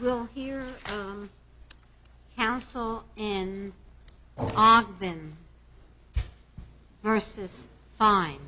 We'll hear counsel in Ogbin v. Fein.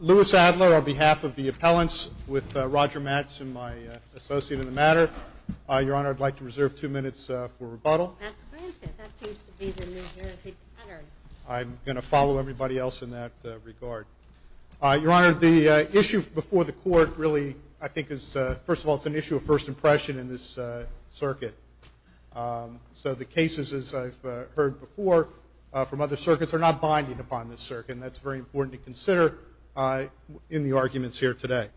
Lewis Adler on behalf of the appellants with Roger Mattson, my associate in the matter. Your Honor, I'd like to reserve two minutes for rebuttal. That's granted. That seems to be the New Jersey pattern. I'm going to follow everybody else in that regard. Your Honor, the issue before the court really, I think, is, first of all, it's an issue of first impression in this circuit. So the cases, as I've heard before from other circuits, are not binding upon this circuit. And that's very important to consider in the arguments here today.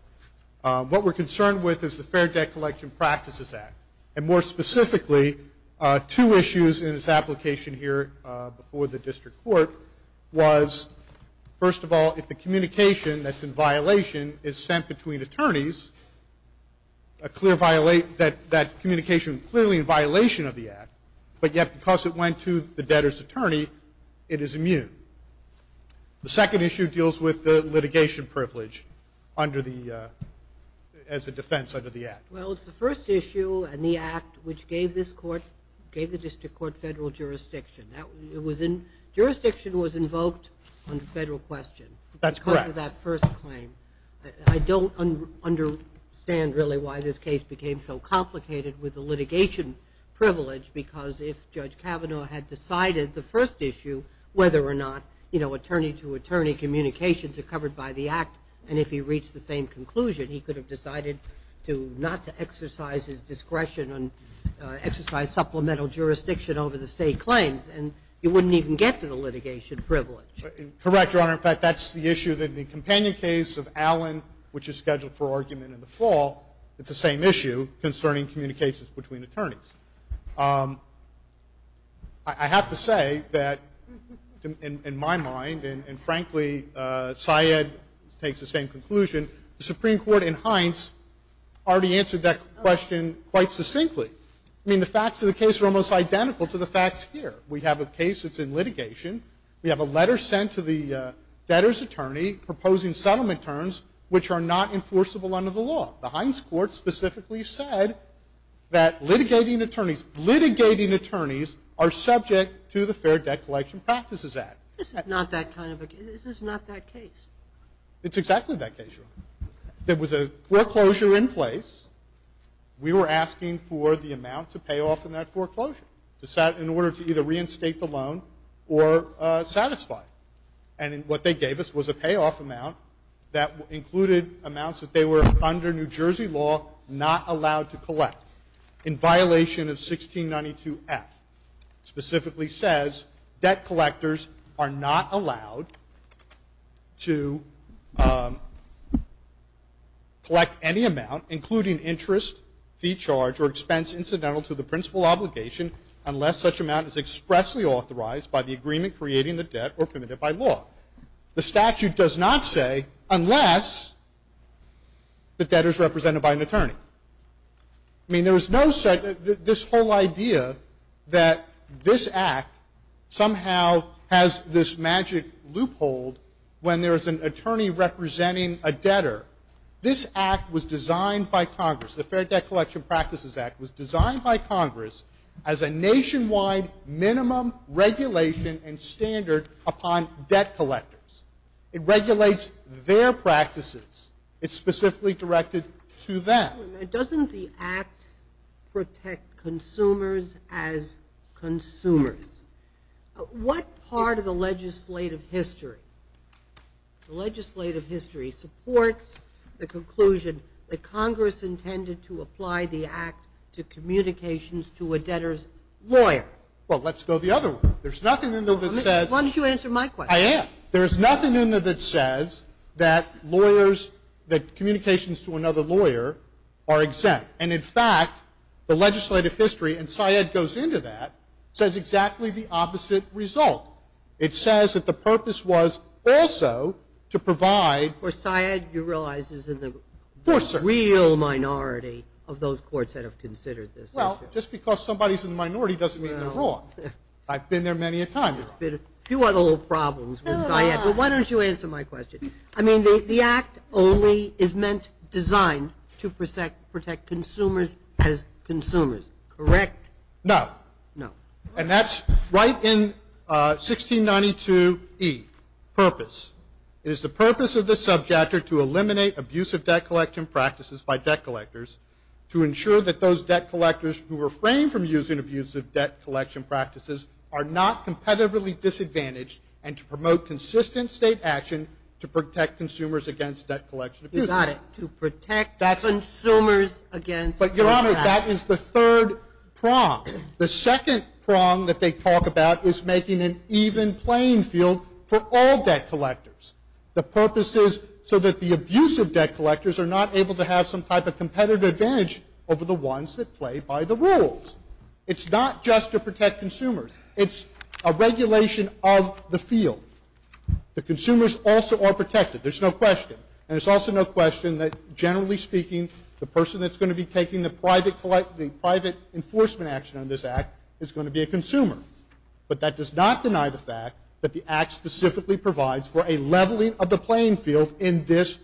What we're concerned with is the Fair Debt Collection Practices Act. And more specifically, two issues in its application here before the district court was, first of all, if the communication that's in violation is sent between attorneys, that communication is clearly in violation of the act. But yet, because it went to the debtor's attorney, it is immune. The second issue deals with the litigation privilege as a defense under the act. Well, it's the first issue and the act which gave the district court federal jurisdiction. Jurisdiction was invoked on the federal question because of that first claim. I don't understand, really, why this case became so complicated with the litigation privilege. Because if Judge Kavanaugh had decided the first issue, whether or not attorney-to-attorney communications are covered by the act, and if he reached the same conclusion, he could have decided not to exercise his discretion and exercise supplemental jurisdiction over the state claims. And you wouldn't even get to the litigation privilege. Correct, Your Honor. In fact, that's the issue that the companion case of Allen, which is scheduled for argument in the fall, it's the same issue concerning communications between attorneys. I have to say that, in my mind, and frankly, Syed takes the same conclusion, the Supreme Court in Hines already answered that question quite succinctly. I mean, the facts of the case are almost identical to the facts here. We have a case that's in litigation. We have a letter sent to the debtor's attorney proposing settlement terms which are not enforceable under the law. The Hines court specifically said that litigating attorneys, litigating attorneys are subject to the Fair Debt Collection Practices Act. This is not that kind of a case. This is not that case. It's exactly that case, Your Honor. There was a foreclosure in place. We were asking for the amount to pay off in that foreclosure in order to either reinstate the loan or satisfy it. And what they gave us was a payoff amount that included amounts that they were, under New Jersey law, not allowed to collect in violation of 1692F, specifically says debt collectors are not allowed to collect any amount, including interest, fee charge, or expense incidental to the principal obligation unless such amount is expressly authorized by the agreement creating the debt or permitted by law. The statute does not say unless the debtor is represented by an attorney. I mean, there is no such, this whole idea that this act somehow has this magic loophole when there is an attorney representing a debtor, this act was designed by Congress, the Fair Debt Collection Practices Act was designed by Congress as a nationwide minimum regulation and standard upon debt collectors. It regulates their practices. It's specifically directed to them. Wait a minute, doesn't the act protect consumers as consumers? What part of the legislative history, the legislative history, supports the conclusion that Congress intended to apply the act to communications to a debtor's lawyer? Well, let's go the other way. There's nothing in there that says... Why don't you answer my question? I am. There is nothing in there that says that lawyers, that communications to another lawyer are exempt. And in fact, the legislative history, and Syed goes into that, says exactly the opposite result. It says that the purpose was also to provide... Of course, Syed, you realize is in the real minority of those courts that have considered this issue. Well, just because somebody's in the minority doesn't mean they're wrong. I've been there many a time. There's been a few other little problems with Syed. But why don't you answer my question? I mean, the act only is meant designed to protect consumers as consumers, correct? No. No. And that's right in 1692E, purpose. It is the purpose of the subject or to eliminate abusive debt collection practices by debt collectors to ensure that those debt collectors who refrain from using and to promote consistent state action to protect consumers against debt collection abuse. You got it. To protect consumers against... But Your Honor, that is the third prong. The second prong that they talk about is making an even playing field for all debt collectors. The purpose is so that the abusive debt collectors are not able to have some type of competitive advantage over the ones that play by the rules. It's not just to protect consumers. It's a regulation of the field. The consumers also are protected. There's no question. And there's also no question that, generally speaking, the person that's going to be taking the private enforcement action on this act is going to be a consumer. But that does not deny the fact that the act specifically provides for a leveling of the playing field in this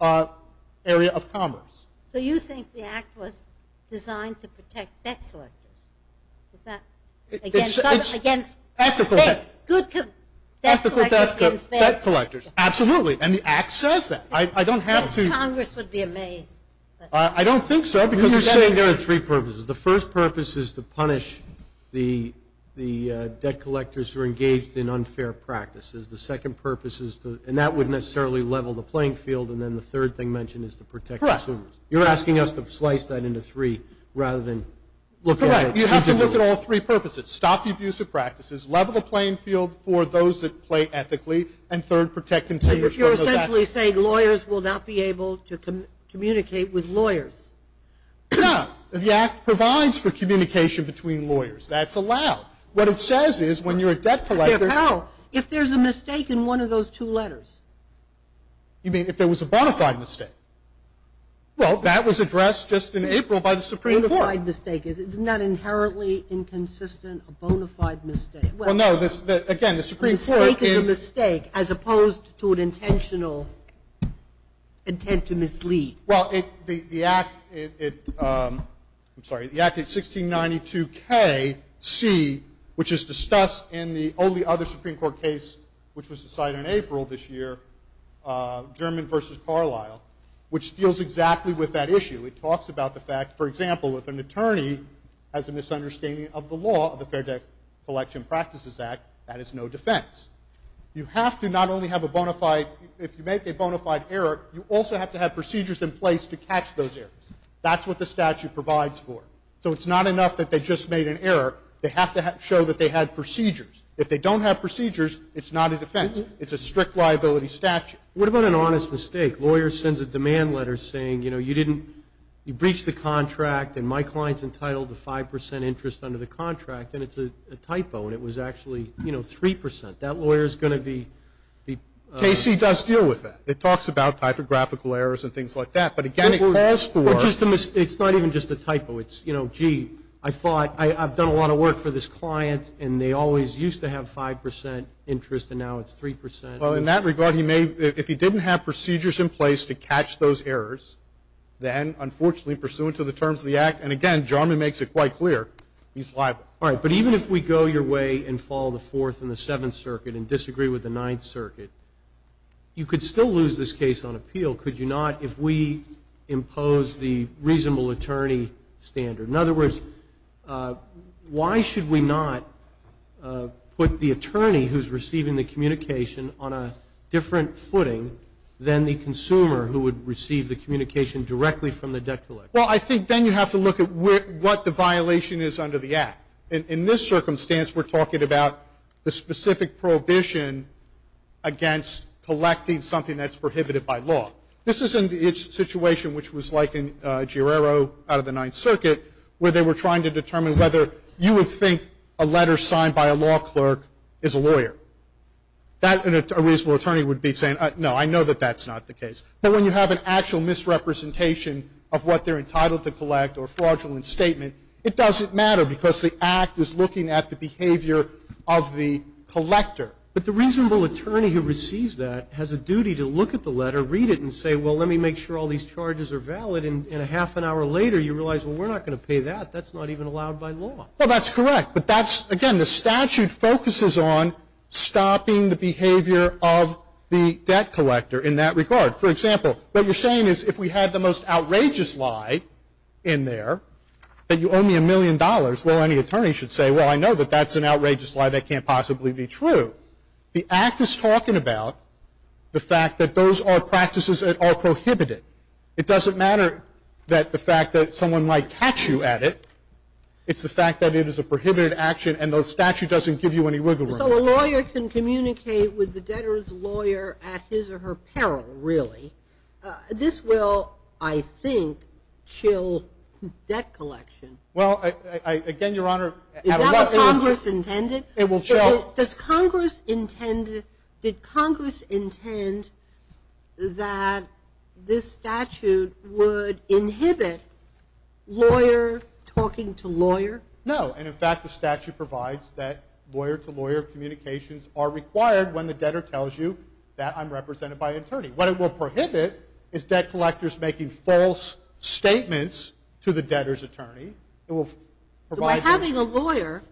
area of commerce. So you think the act was designed to protect debt collectors? Is that against... It's ethical debt collectors. Absolutely. And the act says that. I don't have to... Congress would be amazed. I don't think so because... You're saying there are three purposes. The first purpose is to punish the debt collectors who are engaged in unfair practices. The second purpose is to... And then the third thing mentioned is to protect consumers. Correct. You're asking us to slice that into three rather than look at it... Correct. You have to look at all three purposes. Stop the abuse of practices, level the playing field for those that play ethically, and third, protect consumers from those actions. You're essentially saying lawyers will not be able to communicate with lawyers. No. The act provides for communication between lawyers. That's allowed. What it says is when you're a debt collector... How? If there's a mistake in one of those two letters. You mean if there was a bona fide mistake? Well, that was addressed just in April by the Supreme Court. A bona fide mistake. Isn't that inherently inconsistent, a bona fide mistake? Well, no. Again, the Supreme Court... A mistake is a mistake as opposed to an intentional intent to mislead. Well, the act, I'm sorry, the act is 1692KC, German v. Carlisle, which deals exactly with that issue. It talks about the fact, for example, if an attorney has a misunderstanding of the law of the Fair Debt Collection Practices Act, that is no defense. You have to not only have a bona fide, if you make a bona fide error, you also have to have procedures in place to catch those errors. That's what the statute provides for. So it's not enough that they just made an error. They have to show that they had procedures. If they don't have procedures, it's not a defense. It's a strict liability statute. What about an honest mistake? A lawyer sends a demand letter saying, you know, you didn't, you breached the contract, and my client's entitled to 5% interest under the contract, and it's a typo, and it was actually, you know, 3%. That lawyer's going to be... KC does deal with that. It talks about typographical errors and things like that. But, again, it calls for... It's not even just a typo. It's, you know, gee, I've done a lot of work for this client, and they always used to have 5% interest, and now it's 3%. Well, in that regard, he may... If he didn't have procedures in place to catch those errors, then, unfortunately, pursuant to the terms of the Act, and, again, Jarman makes it quite clear, he's liable. All right. But even if we go your way and follow the Fourth and the Seventh Circuit and disagree with the Ninth Circuit, you could still lose this case on appeal, could you not, if we impose the reasonable attorney standard? In other words, why should we not put the attorney who's receiving the communication on a different footing than the consumer who would receive the communication directly from the debt collector? Well, I think then you have to look at what the violation is under the Act. In this circumstance, we're talking about the specific prohibition against collecting something that's prohibited by law. This is in the situation which was like in Girero out of the Ninth Circuit, where they were trying to determine whether you would think a letter signed by a law clerk is a lawyer. That, a reasonable attorney would be saying, no, I know that that's not the case. But when you have an actual misrepresentation of what they're entitled to collect or fraudulent statement, it doesn't matter because the Act is looking at the behavior of the collector. Well, that's correct. But that's, again, the statute focuses on stopping the behavior of the debt collector in that regard. For example, what you're saying is if we had the most outrageous lie in there, that you owe me a million dollars, well, any attorney should say, well, I know that that's an outrageous lie, that can't possibly be true. The Act is talking about the fact that those are prohibitions. It doesn't matter that the fact that someone might catch you at it. It's the fact that it is a prohibited action, and the statute doesn't give you any wiggle room. So a lawyer can communicate with the debtor's lawyer at his or her peril, really. This will, I think, chill debt collection. Well, again, Your Honor, at a look. Is that what Congress intended? It will chill. Does Congress intend that this statute would inhibit talking to lawyer? No, and, in fact, the statute provides that lawyer-to-lawyer communications are required when the debtor tells you that I'm represented by an attorney. What it will prohibit is debt collectors making false statements to the debtor's attorney. By having a lawyer,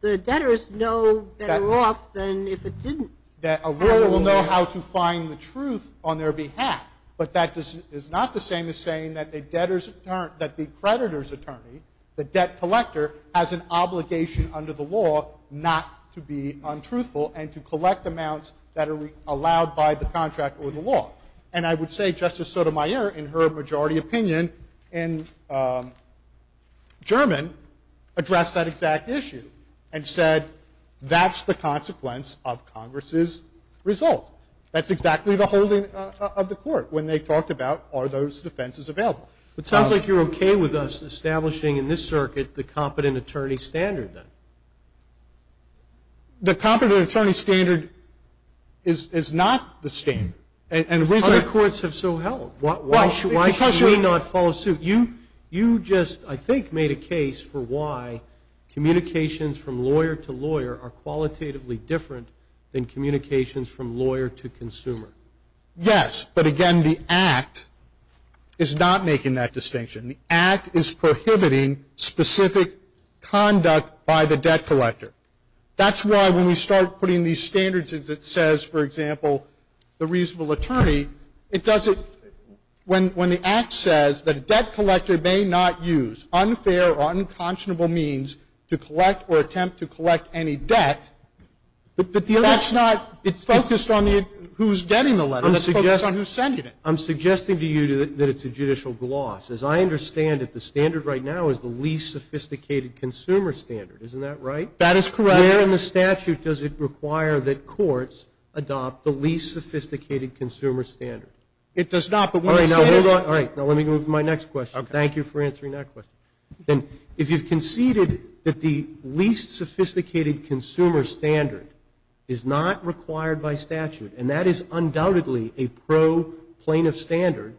the debtors know better off than if it didn't. A lawyer will know how to find the truth on their behalf, but that is not the same as saying that the creditor's attorney, the debt collector, has an obligation under the law not to be untruthful and to collect amounts that are allowed by the contract or the law. And I would say Justice Sotomayor, in her majority opinion in German, addressed that exact issue and said, that's the consequence of Congress's result. That's exactly the holding of the court when they talked about, are those defenses available. It sounds like you're okay with us establishing in this circuit the competent The competent attorney standard is not the standard. Other courts have so held. Why should we not follow suit? You just, I think, made a case for why communications from lawyer-to-lawyer are qualitatively different than communications from lawyer-to-consumer. Yes, but again, the Act is not making that distinction. The Act is prohibiting specific conduct by the debt collector. That's why when we start putting these standards, it says, for example, the reasonable attorney, it doesn't, when the Act says that a debt collector may not use unfair or unconscionable means to collect or attempt to collect any debt, that's not, it's focused on who's getting the letter. It's focused on who's sending it. I'm suggesting to you that it's a judicial gloss. As I understand it, the standard right now is the least sophisticated consumer standard. Isn't that right? That is correct. Where in the statute does it require that courts adopt the least sophisticated consumer standard? It does not. All right, now hold on. Now let me move to my next question. Thank you for answering that question. If you've conceded that the least sophisticated consumer standard is not required by statute, and that is undoubtedly a pro plaintiff standard,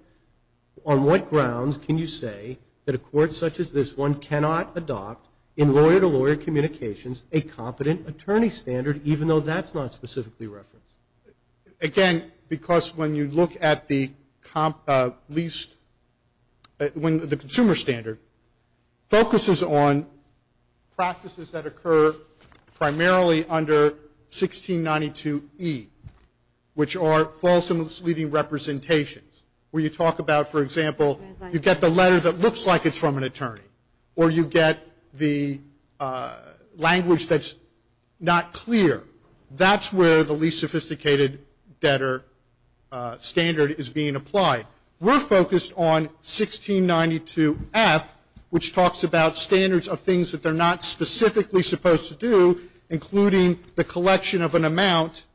on what grounds can you say that a court such as this one cannot adopt in a competent attorney standard, even though that's not specifically referenced? Again, because when you look at the least, when the consumer standard focuses on practices that occur primarily under 1692E, which are false misleading representations, where you talk about, for example, you get the letter that looks like it's from an attorney, or you get the language that's not clear, that's where the least sophisticated debtor standard is being applied. We're focused on 1692F, which talks about standards of things that they're not specifically supposed to do, including the collection of an amount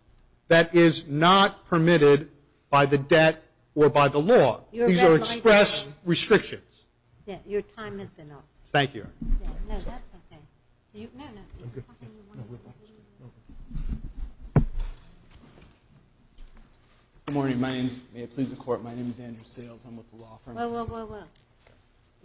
that is not permitted by the debt or by the law. These are express restrictions. Your time has been up. Thank you. Good morning. May it please the Court, my name is Andrew Sales. I'm with the law firm. Whoa, whoa, whoa,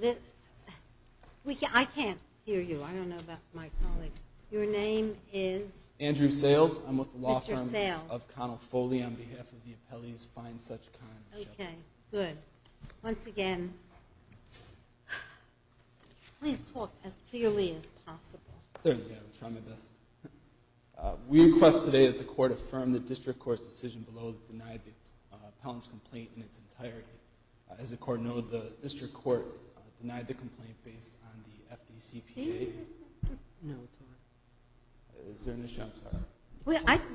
whoa. I can't hear you. I don't know about my colleagues. Your name is? Andrew Sales. I'm with the law firm. Mr. Sales. Of Connell Foley on behalf of the appellees, find such kind. Okay, good. Once again, please talk as clearly as possible. Certainly. I'll try my best. We request today that the Court affirm the district court's decision below to deny the appellant's complaint in its entirety. As the Court knows, the district court denied the complaint based on the FDCPA. No, it's not. Is there an issue?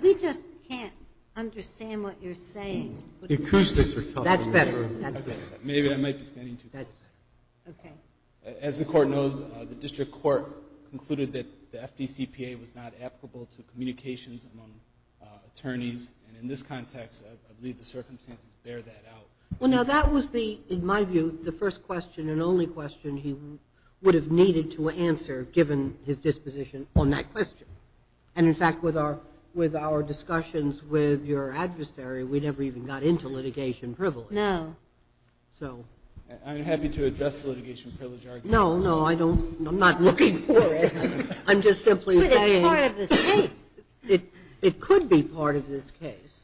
We just can't understand what you're saying. The acoustics are tough. That's better. Maybe I might be standing too close. Okay. As the Court knows, the district court concluded that the FDCPA was not applicable to communications among attorneys. And in this context, I believe the circumstances bear that out. Well, now, that was, in my view, the first question and only question he would have needed to answer, given his disposition on that question. And, in fact, with our discussions with your adversary, we never even got into litigation privilege. No. So. I'm happy to address the litigation privilege argument. No, no, I don't. I'm not looking for it. I'm just simply saying. But it's part of this case. It could be part of this case.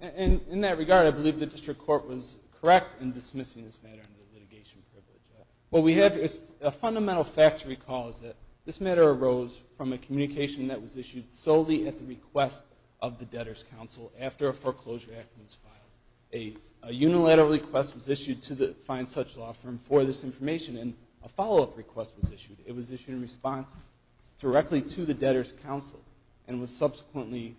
In that regard, I believe the district court was correct in dismissing this matter under litigation privilege. What we have is a fundamental fact to recall is that this matter arose from a communication that was issued solely at the request of the debtor's foreclosure act when it was filed. A unilateral request was issued to the fine such law firm for this information, and a follow-up request was issued. It was issued in response directly to the debtor's counsel and was subsequently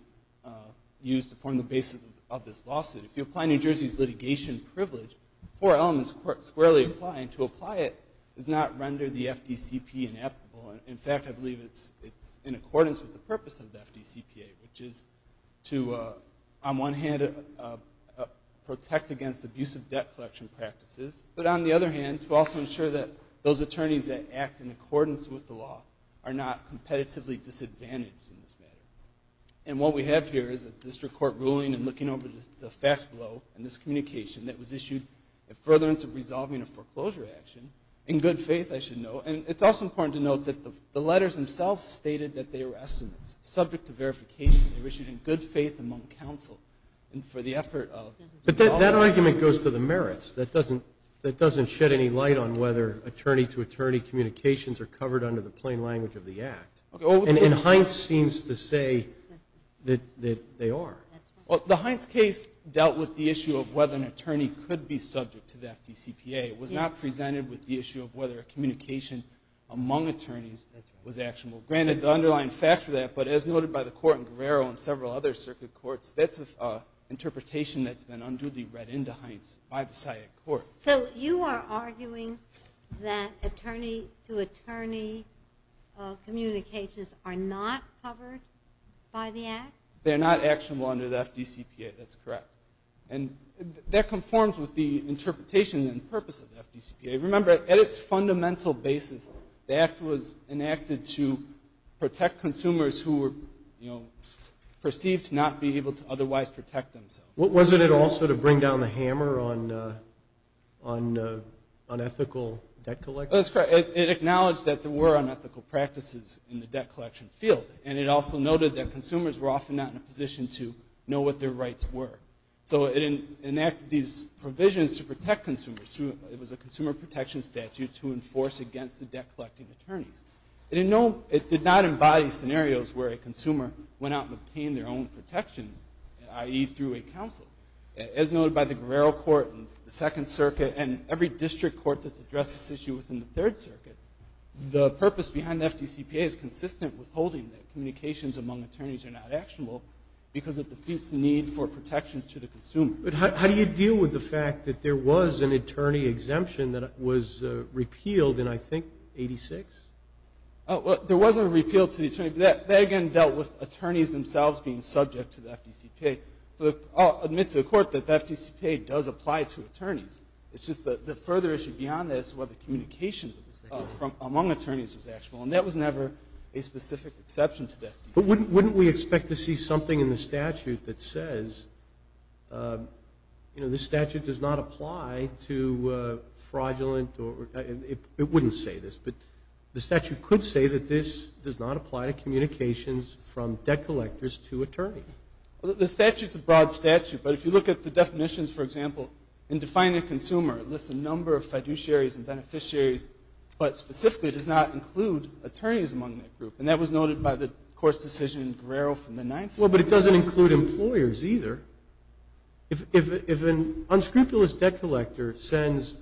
used to form the basis of this lawsuit. If you apply New Jersey's litigation privilege, four elements squarely apply, and to apply it does not render the FDCPA inapplicable. In fact, I believe it's in accordance with the purpose of the FDCPA, which is to, on one hand, protect against abusive debt collection practices, but on the other hand, to also ensure that those attorneys that act in accordance with the law are not competitively disadvantaged in this matter. And what we have here is a district court ruling, and looking over the facts below, and this communication that was issued in furtherance of resolving a foreclosure action, in good faith, I should note. And it's also important to note that the letters themselves stated that they were estimates. Subject to verification, they were issued in good faith among counsel, and for the effort of resolving. But that argument goes to the merits. That doesn't shed any light on whether attorney-to-attorney communications are covered under the plain language of the Act. And Hines seems to say that they are. Well, the Hines case dealt with the issue of whether an attorney could be subject to the FDCPA. It was not presented with the issue of whether a communication among attorneys was actionable. Granted, the underlying facts for that, but as noted by the court in Guerrero and several other circuit courts, that's an interpretation that's been unduly read into Hines by the SIAC court. So you are arguing that attorney-to-attorney communications are not covered by the Act? They're not actionable under the FDCPA. That's correct. And that conforms with the interpretation and purpose of the FDCPA. Remember, at its fundamental basis, the Act was enacted to protect consumers who were, you know, perceived to not be able to otherwise protect themselves. Wasn't it also to bring down the hammer on ethical debt collection? That's correct. It acknowledged that there were unethical practices in the debt collection field. And it also noted that consumers were often not in a position to know what their rights were. So it enacted these provisions to protect consumers. It was a consumer protection statute to enforce against the debt-collecting attorneys. It did not embody scenarios where a consumer went out and obtained their own protection, i.e., through a counsel. As noted by the Guerrero court and the Second Circuit and every district court that's addressed this issue within the Third Circuit, the purpose behind the FDCPA is consistent with holding that communications among attorneys are not actionable because it defeats the need for protections to the consumer. But how do you deal with the fact that there was an attorney exemption that was repealed in, I think, 86? There was a repeal to the attorney. But that, again, dealt with attorneys themselves being subject to the FDCPA. I'll admit to the Court that the FDCPA does apply to attorneys. It's just the further issue beyond this is whether communications among attorneys was actionable. And that was never a specific exception to the FDCPA. But wouldn't we expect to see something in the statute that says, you know, this statute does not apply to fraudulent or it wouldn't say this, but the statute could say that this does not apply to communications from debt collectors to attorneys. The statute's a broad statute. But if you look at the definitions, for example, in defining a consumer, it lists a number of fiduciaries and beneficiaries, but specifically does not include attorneys among that group. And that was noted by the Court's decision in Guerrero from the Ninth Circuit. Well, but it doesn't include employers either. If an unscrupulous debt collector sends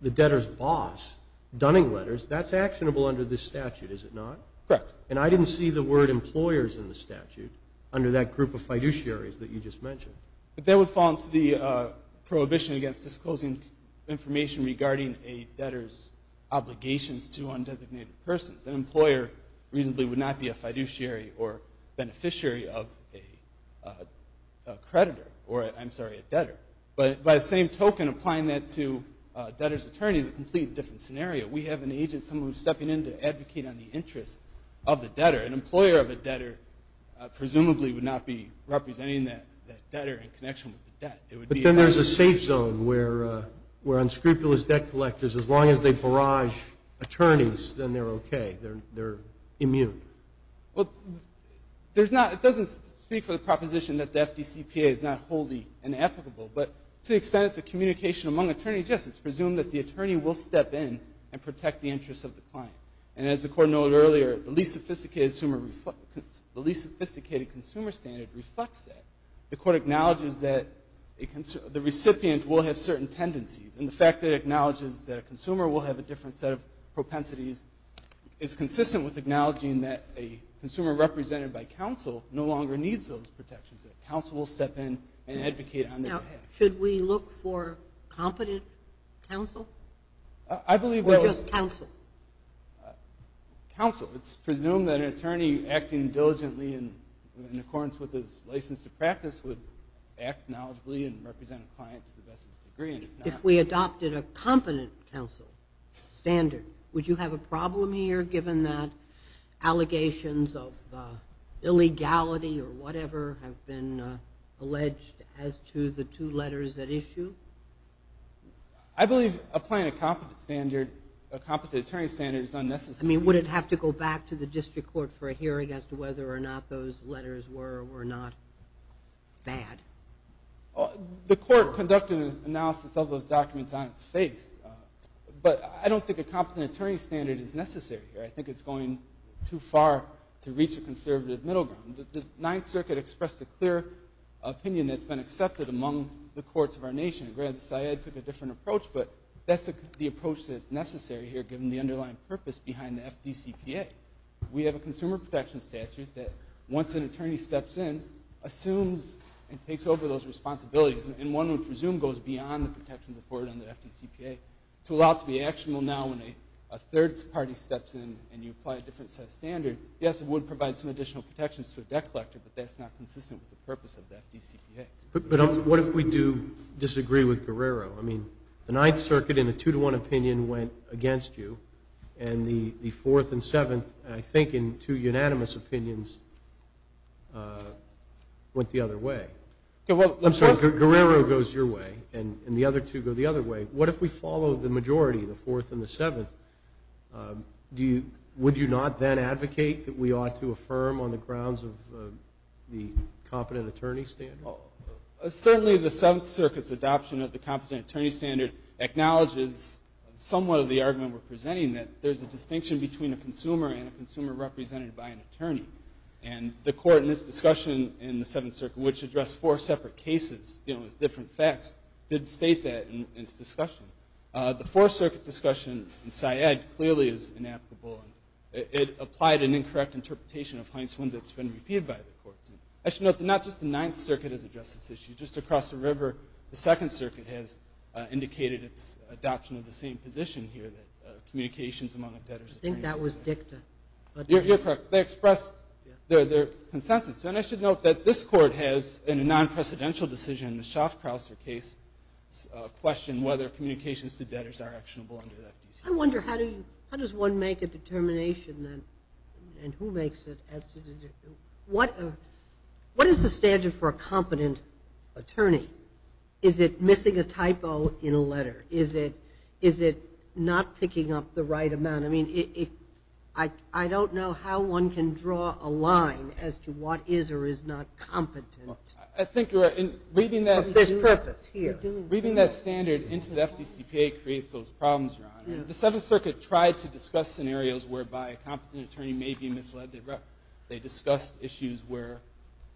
the debtor's boss dunning letters, that's actionable under this statute, is it not? Correct. And I didn't see the word employers in the statute under that group of fiduciaries that you just mentioned. But that would fall into the prohibition against disclosing information regarding a debtor's obligations to undesignated persons. An employer reasonably would not be a fiduciary or beneficiary of a creditor or, I'm sorry, a debtor. But by the same token, applying that to a debtor's attorney is a completely different scenario. We have an agent, someone who's stepping in to advocate on the interests of the debtor. An employer of a debtor presumably would not be representing that debtor in connection with the debt. But then there's a safe zone where unscrupulous debt collectors, as long as they barrage attorneys, then they're okay. They're immune. Well, it doesn't speak for the proposition that the FDCPA is not wholly inapplicable. But to the extent it's a communication among attorneys, yes, it's presumed that the attorney will step in and protect the interests of the client. And as the Court noted earlier, the least sophisticated consumer standard reflects that. The Court acknowledges that the recipient will have certain tendencies. And the fact that it acknowledges that a consumer will have a different set of propensities is consistent with acknowledging that a consumer represented by counsel no longer needs those protections. That counsel will step in and advocate on their behalf. Now, should we look for competent counsel? Or just counsel? Counsel. It's presumed that an attorney acting diligently in accordance with his license to practice would act knowledgeably and represent a client to the best of his degree. If we adopted a competent counsel standard, would you have a problem here, given that allegations of illegality or whatever have been alleged as to the two letters at issue? I believe applying a competent standard, a competent attorney standard, is unnecessary. I mean, would it have to go back to the district court for a hearing as to whether or not those letters were or were not bad? The Court conducted an analysis of those documents on its face, but I don't think a competent attorney standard is necessary here. I think it's going too far to reach a conservative middle ground. The Ninth Circuit expressed a clear opinion that's been accepted among the courts of our nation. Grand Sayed took a different approach, but that's the approach that's necessary here given the underlying purpose behind the FDCPA. We have a consumer protection statute that once an attorney steps in, assumes and takes over those responsibilities, and one would presume goes beyond the protections afforded under FDCPA to allow it to be actionable now when a third party steps in and you apply a different set of standards. Yes, it would provide some additional protections to a debt collector, but that's not consistent with the purpose of the FDCPA. But what if we do disagree with Guerrero? I mean, the Ninth Circuit, in a two-to-one opinion, went against you, and the Fourth and Seventh, I think in two unanimous opinions, went the other way. Guerrero goes your way, and the other two go the other way. What if we follow the majority, the Fourth and the Seventh? Would you not then advocate that we ought to affirm on the grounds of the competent attorney standard? Certainly the Seventh Circuit's adoption of the competent attorney standard acknowledges somewhat of the argument we're presenting, that there's a distinction between a consumer and a consumer represented by an attorney. And the Court in its discussion in the Seventh Circuit, which addressed four separate cases, you know, with different facts, did state that in its discussion. The Fourth Circuit discussion in Syed clearly is inapplicable. It applied an incorrect interpretation of Heinz's one that's been repeated by the courts. I should note that not just the Ninth Circuit has addressed this issue. Just across the river, the Second Circuit has indicated its adoption of the same position here, that communications among debtors. I think that was dicta. You're correct. They expressed their consensus. And I should note that this Court has, in a non-precedential decision, in the Schaffkrause case, questioned whether communications to debtors are actionable under the FDC. I wonder, how does one make a determination, then, and who makes it? What is the standard for a competent attorney? Is it missing a typo in a letter? Is it not picking up the right amount? I mean, I don't know how one can draw a line as to what is or is not competent. I think you're right. Reading that standard into the FDCPA creates those problems, Your Honor. The Seventh Circuit tried to discuss scenarios whereby a competent attorney may be misled. They discussed issues where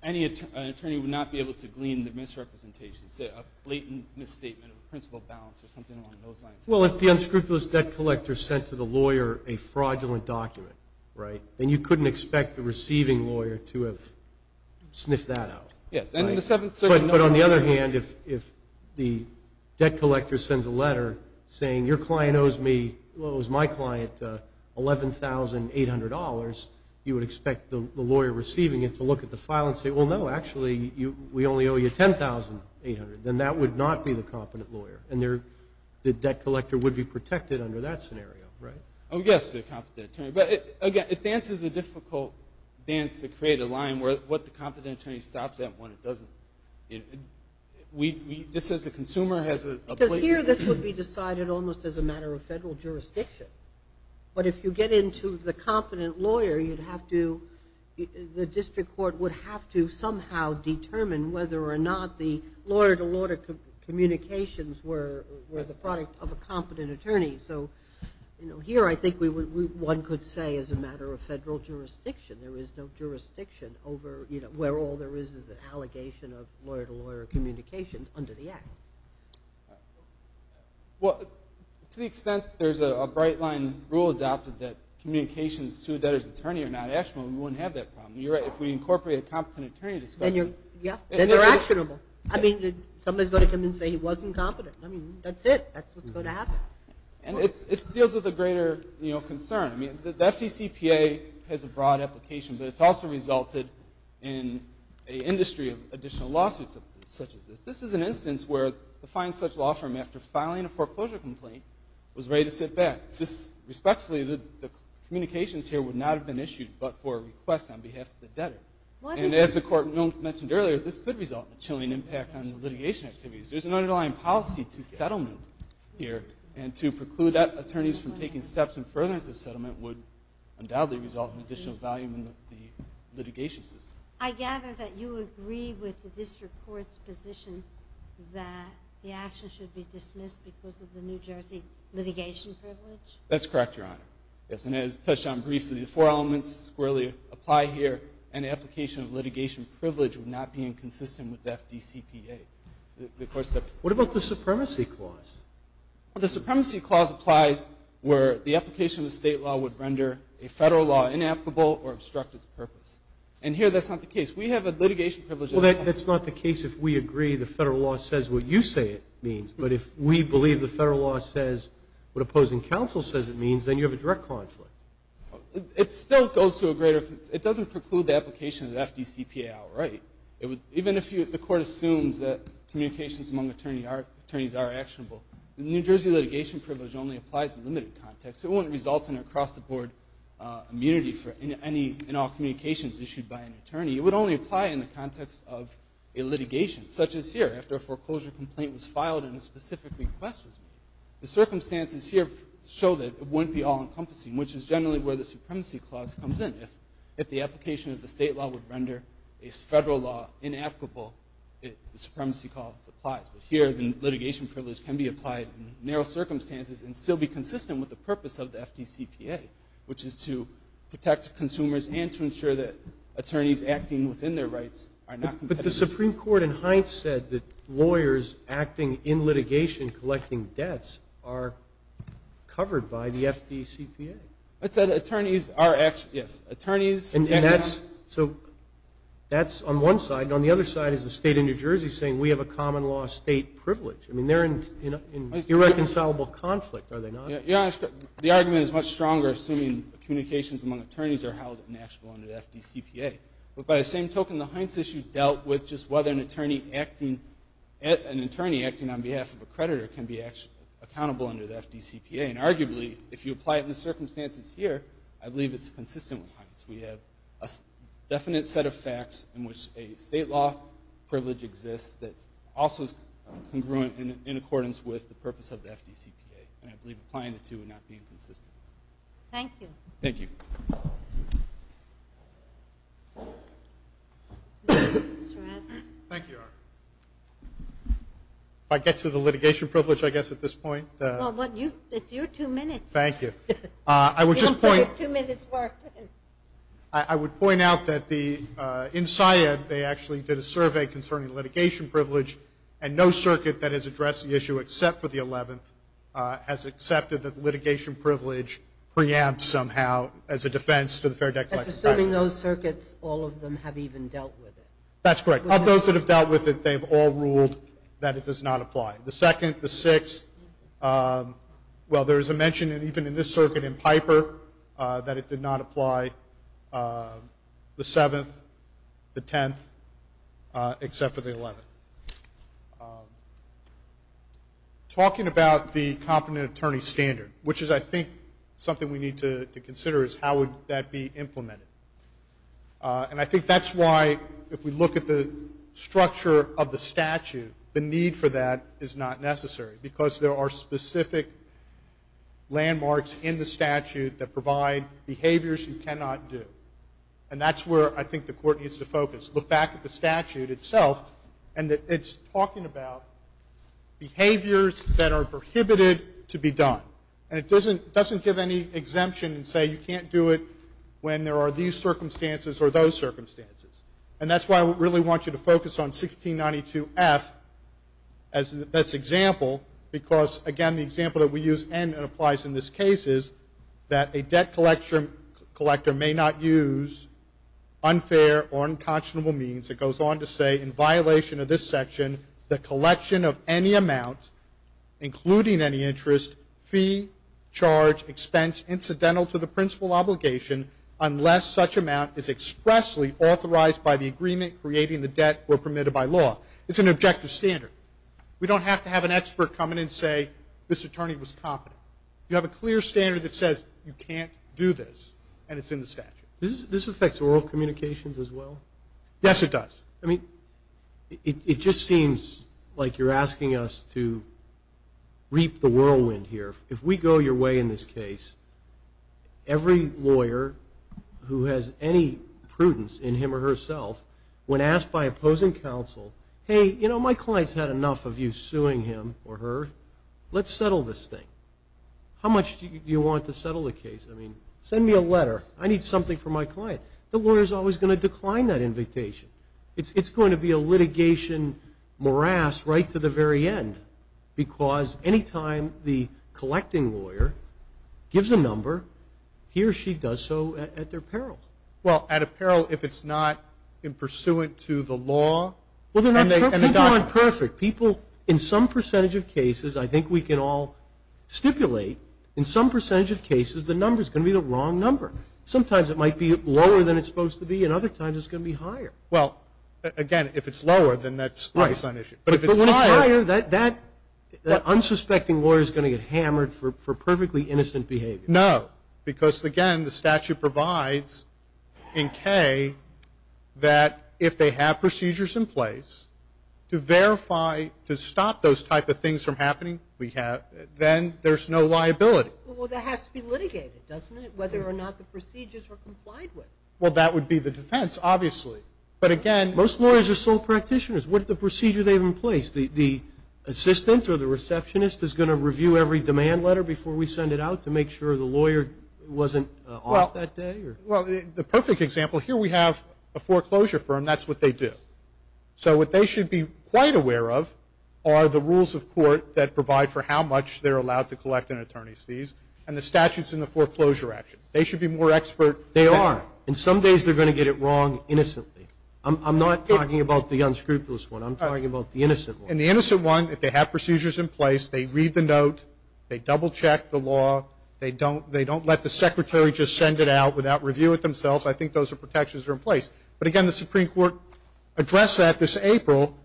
an attorney would not be able to glean the misrepresentation, say a blatant misstatement of a principal balance or something along those lines. Well, if the unscrupulous debt collector sent to the lawyer a fraudulent document, right, then you couldn't expect the receiving lawyer to have sniffed that out. Yes. But on the other hand, if the debt collector sends a letter saying, your client owes me, well, it was my client, $11,800, you would expect the lawyer receiving it to look at the file and say, well, no, actually, we only owe you $10,800. Then that would not be the competent lawyer, and the debt collector would be protected under that scenario, right? Oh, yes, the competent attorney. But, again, it dances a difficult dance to create a line where what the competent attorney stops at and what it doesn't. Just as a consumer has a blatant misstatement. Because here this would be decided almost as a matter of federal jurisdiction. But if you get into the competent lawyer, the district court would have to somehow determine whether or not the lawyer-to-lawyer communications were the product of a competent attorney. So, you know, here I think one could say as a matter of federal jurisdiction. There is no jurisdiction over, you know, where all there is is an allegation of lawyer-to-lawyer communications under the Act. Well, to the extent there's a bright-line rule adopted that communications to a debtor's attorney are not actionable, we wouldn't have that problem. You're right. If we incorporate a competent attorney discussion. Yeah, then they're actionable. I mean, somebody's going to come in and say he wasn't competent. I mean, that's it. That's what's going to happen. And it deals with a greater, you know, concern. I mean, the FDCPA has a broad application, but it's also resulted in an industry of additional lawsuits such as this. This is an instance where the fine such law firm after filing a foreclosure complaint was ready to sit back. Respectfully, the communications here would not have been issued but for a request on behalf of the debtor. And as the Court mentioned earlier, this could result in a chilling impact on the litigation activities. There's an underlying policy to settlement here and to preclude attorneys from taking steps in furtherance of settlement would undoubtedly result in additional value in the litigation system. I gather that you agree with the district court's position that the action should be dismissed because of the New Jersey litigation privilege? That's correct, Your Honor. Yes, and as touched on briefly, the four elements squarely apply here, and the application of litigation privilege would not be inconsistent with the FDCPA. What about the supremacy clause? The supremacy clause applies where the application of the state law would render a federal law inapplicable or obstruct its purpose. And here that's not the case. We have a litigation privilege. Well, that's not the case if we agree the federal law says what you say it means. But if we believe the federal law says what opposing counsel says it means, then you have a direct conflict. It still goes to a greater – it doesn't preclude the application of the FDCPA outright. Even if the court assumes that communications among attorneys are actionable, the New Jersey litigation privilege only applies in a limited context. It wouldn't result in a cross-the-board immunity in all communications issued by an attorney. It would only apply in the context of a litigation, such as here, after a foreclosure complaint was filed and a specific request was made. The circumstances here show that it wouldn't be all-encompassing, which is generally where the supremacy clause comes in. If the application of the state law would render a federal law inapplicable, the supremacy clause applies. But here the litigation privilege can be applied in narrow circumstances and still be consistent with the purpose of the FDCPA, which is to protect consumers and to ensure that attorneys acting within their rights are not competitive. But the Supreme Court in Hines said that lawyers acting in litigation collecting debts are covered by the FDCPA. I said attorneys are actually, yes, attorneys. And that's, so that's on one side. On the other side is the state of New Jersey saying we have a common law state privilege. I mean, they're in irreconcilable conflict, are they not? Yeah, the argument is much stronger assuming communications among attorneys are held inactionable under the FDCPA. But by the same token, the Hines issue dealt with just whether an attorney acting, an attorney acting on behalf of a creditor can be accountable under the FDCPA. And arguably, if you apply it in the circumstances here, I believe it's consistent with Hines. We have a definite set of facts in which a state law privilege exists that also is congruent in accordance with the purpose of the FDCPA. And I believe applying the two would not be inconsistent. Thank you. Thank you. Thank you. If I get to the litigation privilege, I guess, at this point. Well, it's your two minutes. Thank you. I would just point. Your two minutes work. I would point out that the, in SIAD, they actually did a survey concerning litigation privilege, and no circuit that has addressed the issue except for the 11th has accepted that litigation privilege preempts somehow as a defense to the Fair Debt Collection Act. Assuming those circuits, all of them have even dealt with it. That's correct. Of those that have dealt with it, they've all ruled that it does not apply. The second, the sixth, well, there is a mention even in this circuit in Piper that it did not apply. The seventh, the tenth, except for the eleventh. Talking about the competent attorney standard, which is I think something we need to consider is how would that be implemented. And I think that's why, if we look at the structure of the statute, the need for that is not necessary, because there are specific landmarks in the statute that provide behaviors you cannot do. And that's where I think the Court needs to focus. Look back at the statute itself, and it's talking about behaviors that are prohibited to be done. And it doesn't give any exemption and say you can't do it when there are these circumstances or those circumstances. And that's why I really want you to focus on 1692F as the best example, because, again, the example that we use and it applies in this case is that a debt collector may not use unfair or unconscionable means. It goes on to say, in violation of this section, the collection of any amount, including any interest, fee, charge, expense, incidental to the principal obligation, unless such amount is expressly authorized by the agreement creating the debt or permitted by law. It's an objective standard. We don't have to have an expert come in and say this attorney was competent. You have a clear standard that says you can't do this, and it's in the statute. This affects oral communications as well? Yes, it does. I mean, it just seems like you're asking us to reap the whirlwind here. If we go your way in this case, every lawyer who has any prudence in him or herself, when asked by opposing counsel, hey, you know, my client's had enough of you suing him or her. Let's settle this thing. How much do you want to settle the case? I mean, send me a letter. I need something from my client. The lawyer's always going to decline that invitation. It's going to be a litigation morass right to the very end, because any time the collecting lawyer gives a number, he or she does so at their peril. Well, at a peril if it's not pursuant to the law? Well, they're not perfect. People, in some percentage of cases, I think we can all stipulate, in some percentage of cases the number's going to be the wrong number. Sometimes it might be lower than it's supposed to be, and other times it's going to be higher. Well, again, if it's lower, then that's on issue. But if it's higher, that unsuspecting lawyer's going to get hammered for perfectly innocent behavior. No, because, again, the statute provides in K that if they have procedures in place to verify, to stop those type of things from happening, then there's no liability. Well, that has to be litigated, doesn't it, whether or not the procedures are complied with. Well, that would be the defense, obviously. But, again – Most lawyers are sole practitioners. What are the procedures they have in place? The assistant or the receptionist is going to review every demand letter before we send it out to make sure the lawyer wasn't off that day? Well, the perfect example, here we have a foreclosure firm. That's what they do. So what they should be quite aware of are the rules of court that provide for how much they're allowed to collect in attorney's fees and the statutes in the foreclosure action. They should be more expert. They are. And some days they're going to get it wrong innocently. I'm not talking about the unscrupulous one. I'm talking about the innocent one. And the innocent one, if they have procedures in place, they read the note, they double-check the law, they don't let the secretary just send it out without review it themselves. I think those are protections that are in place. But, again, the Supreme Court addressed that this April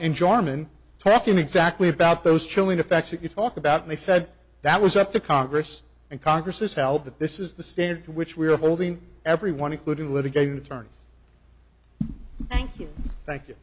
in Jarman, talking exactly about those chilling effects that you talk about, and they said that was up to Congress, and Congress has held that this is the standard to which we are holding everyone, including the litigating attorney. Thank you. Thank you.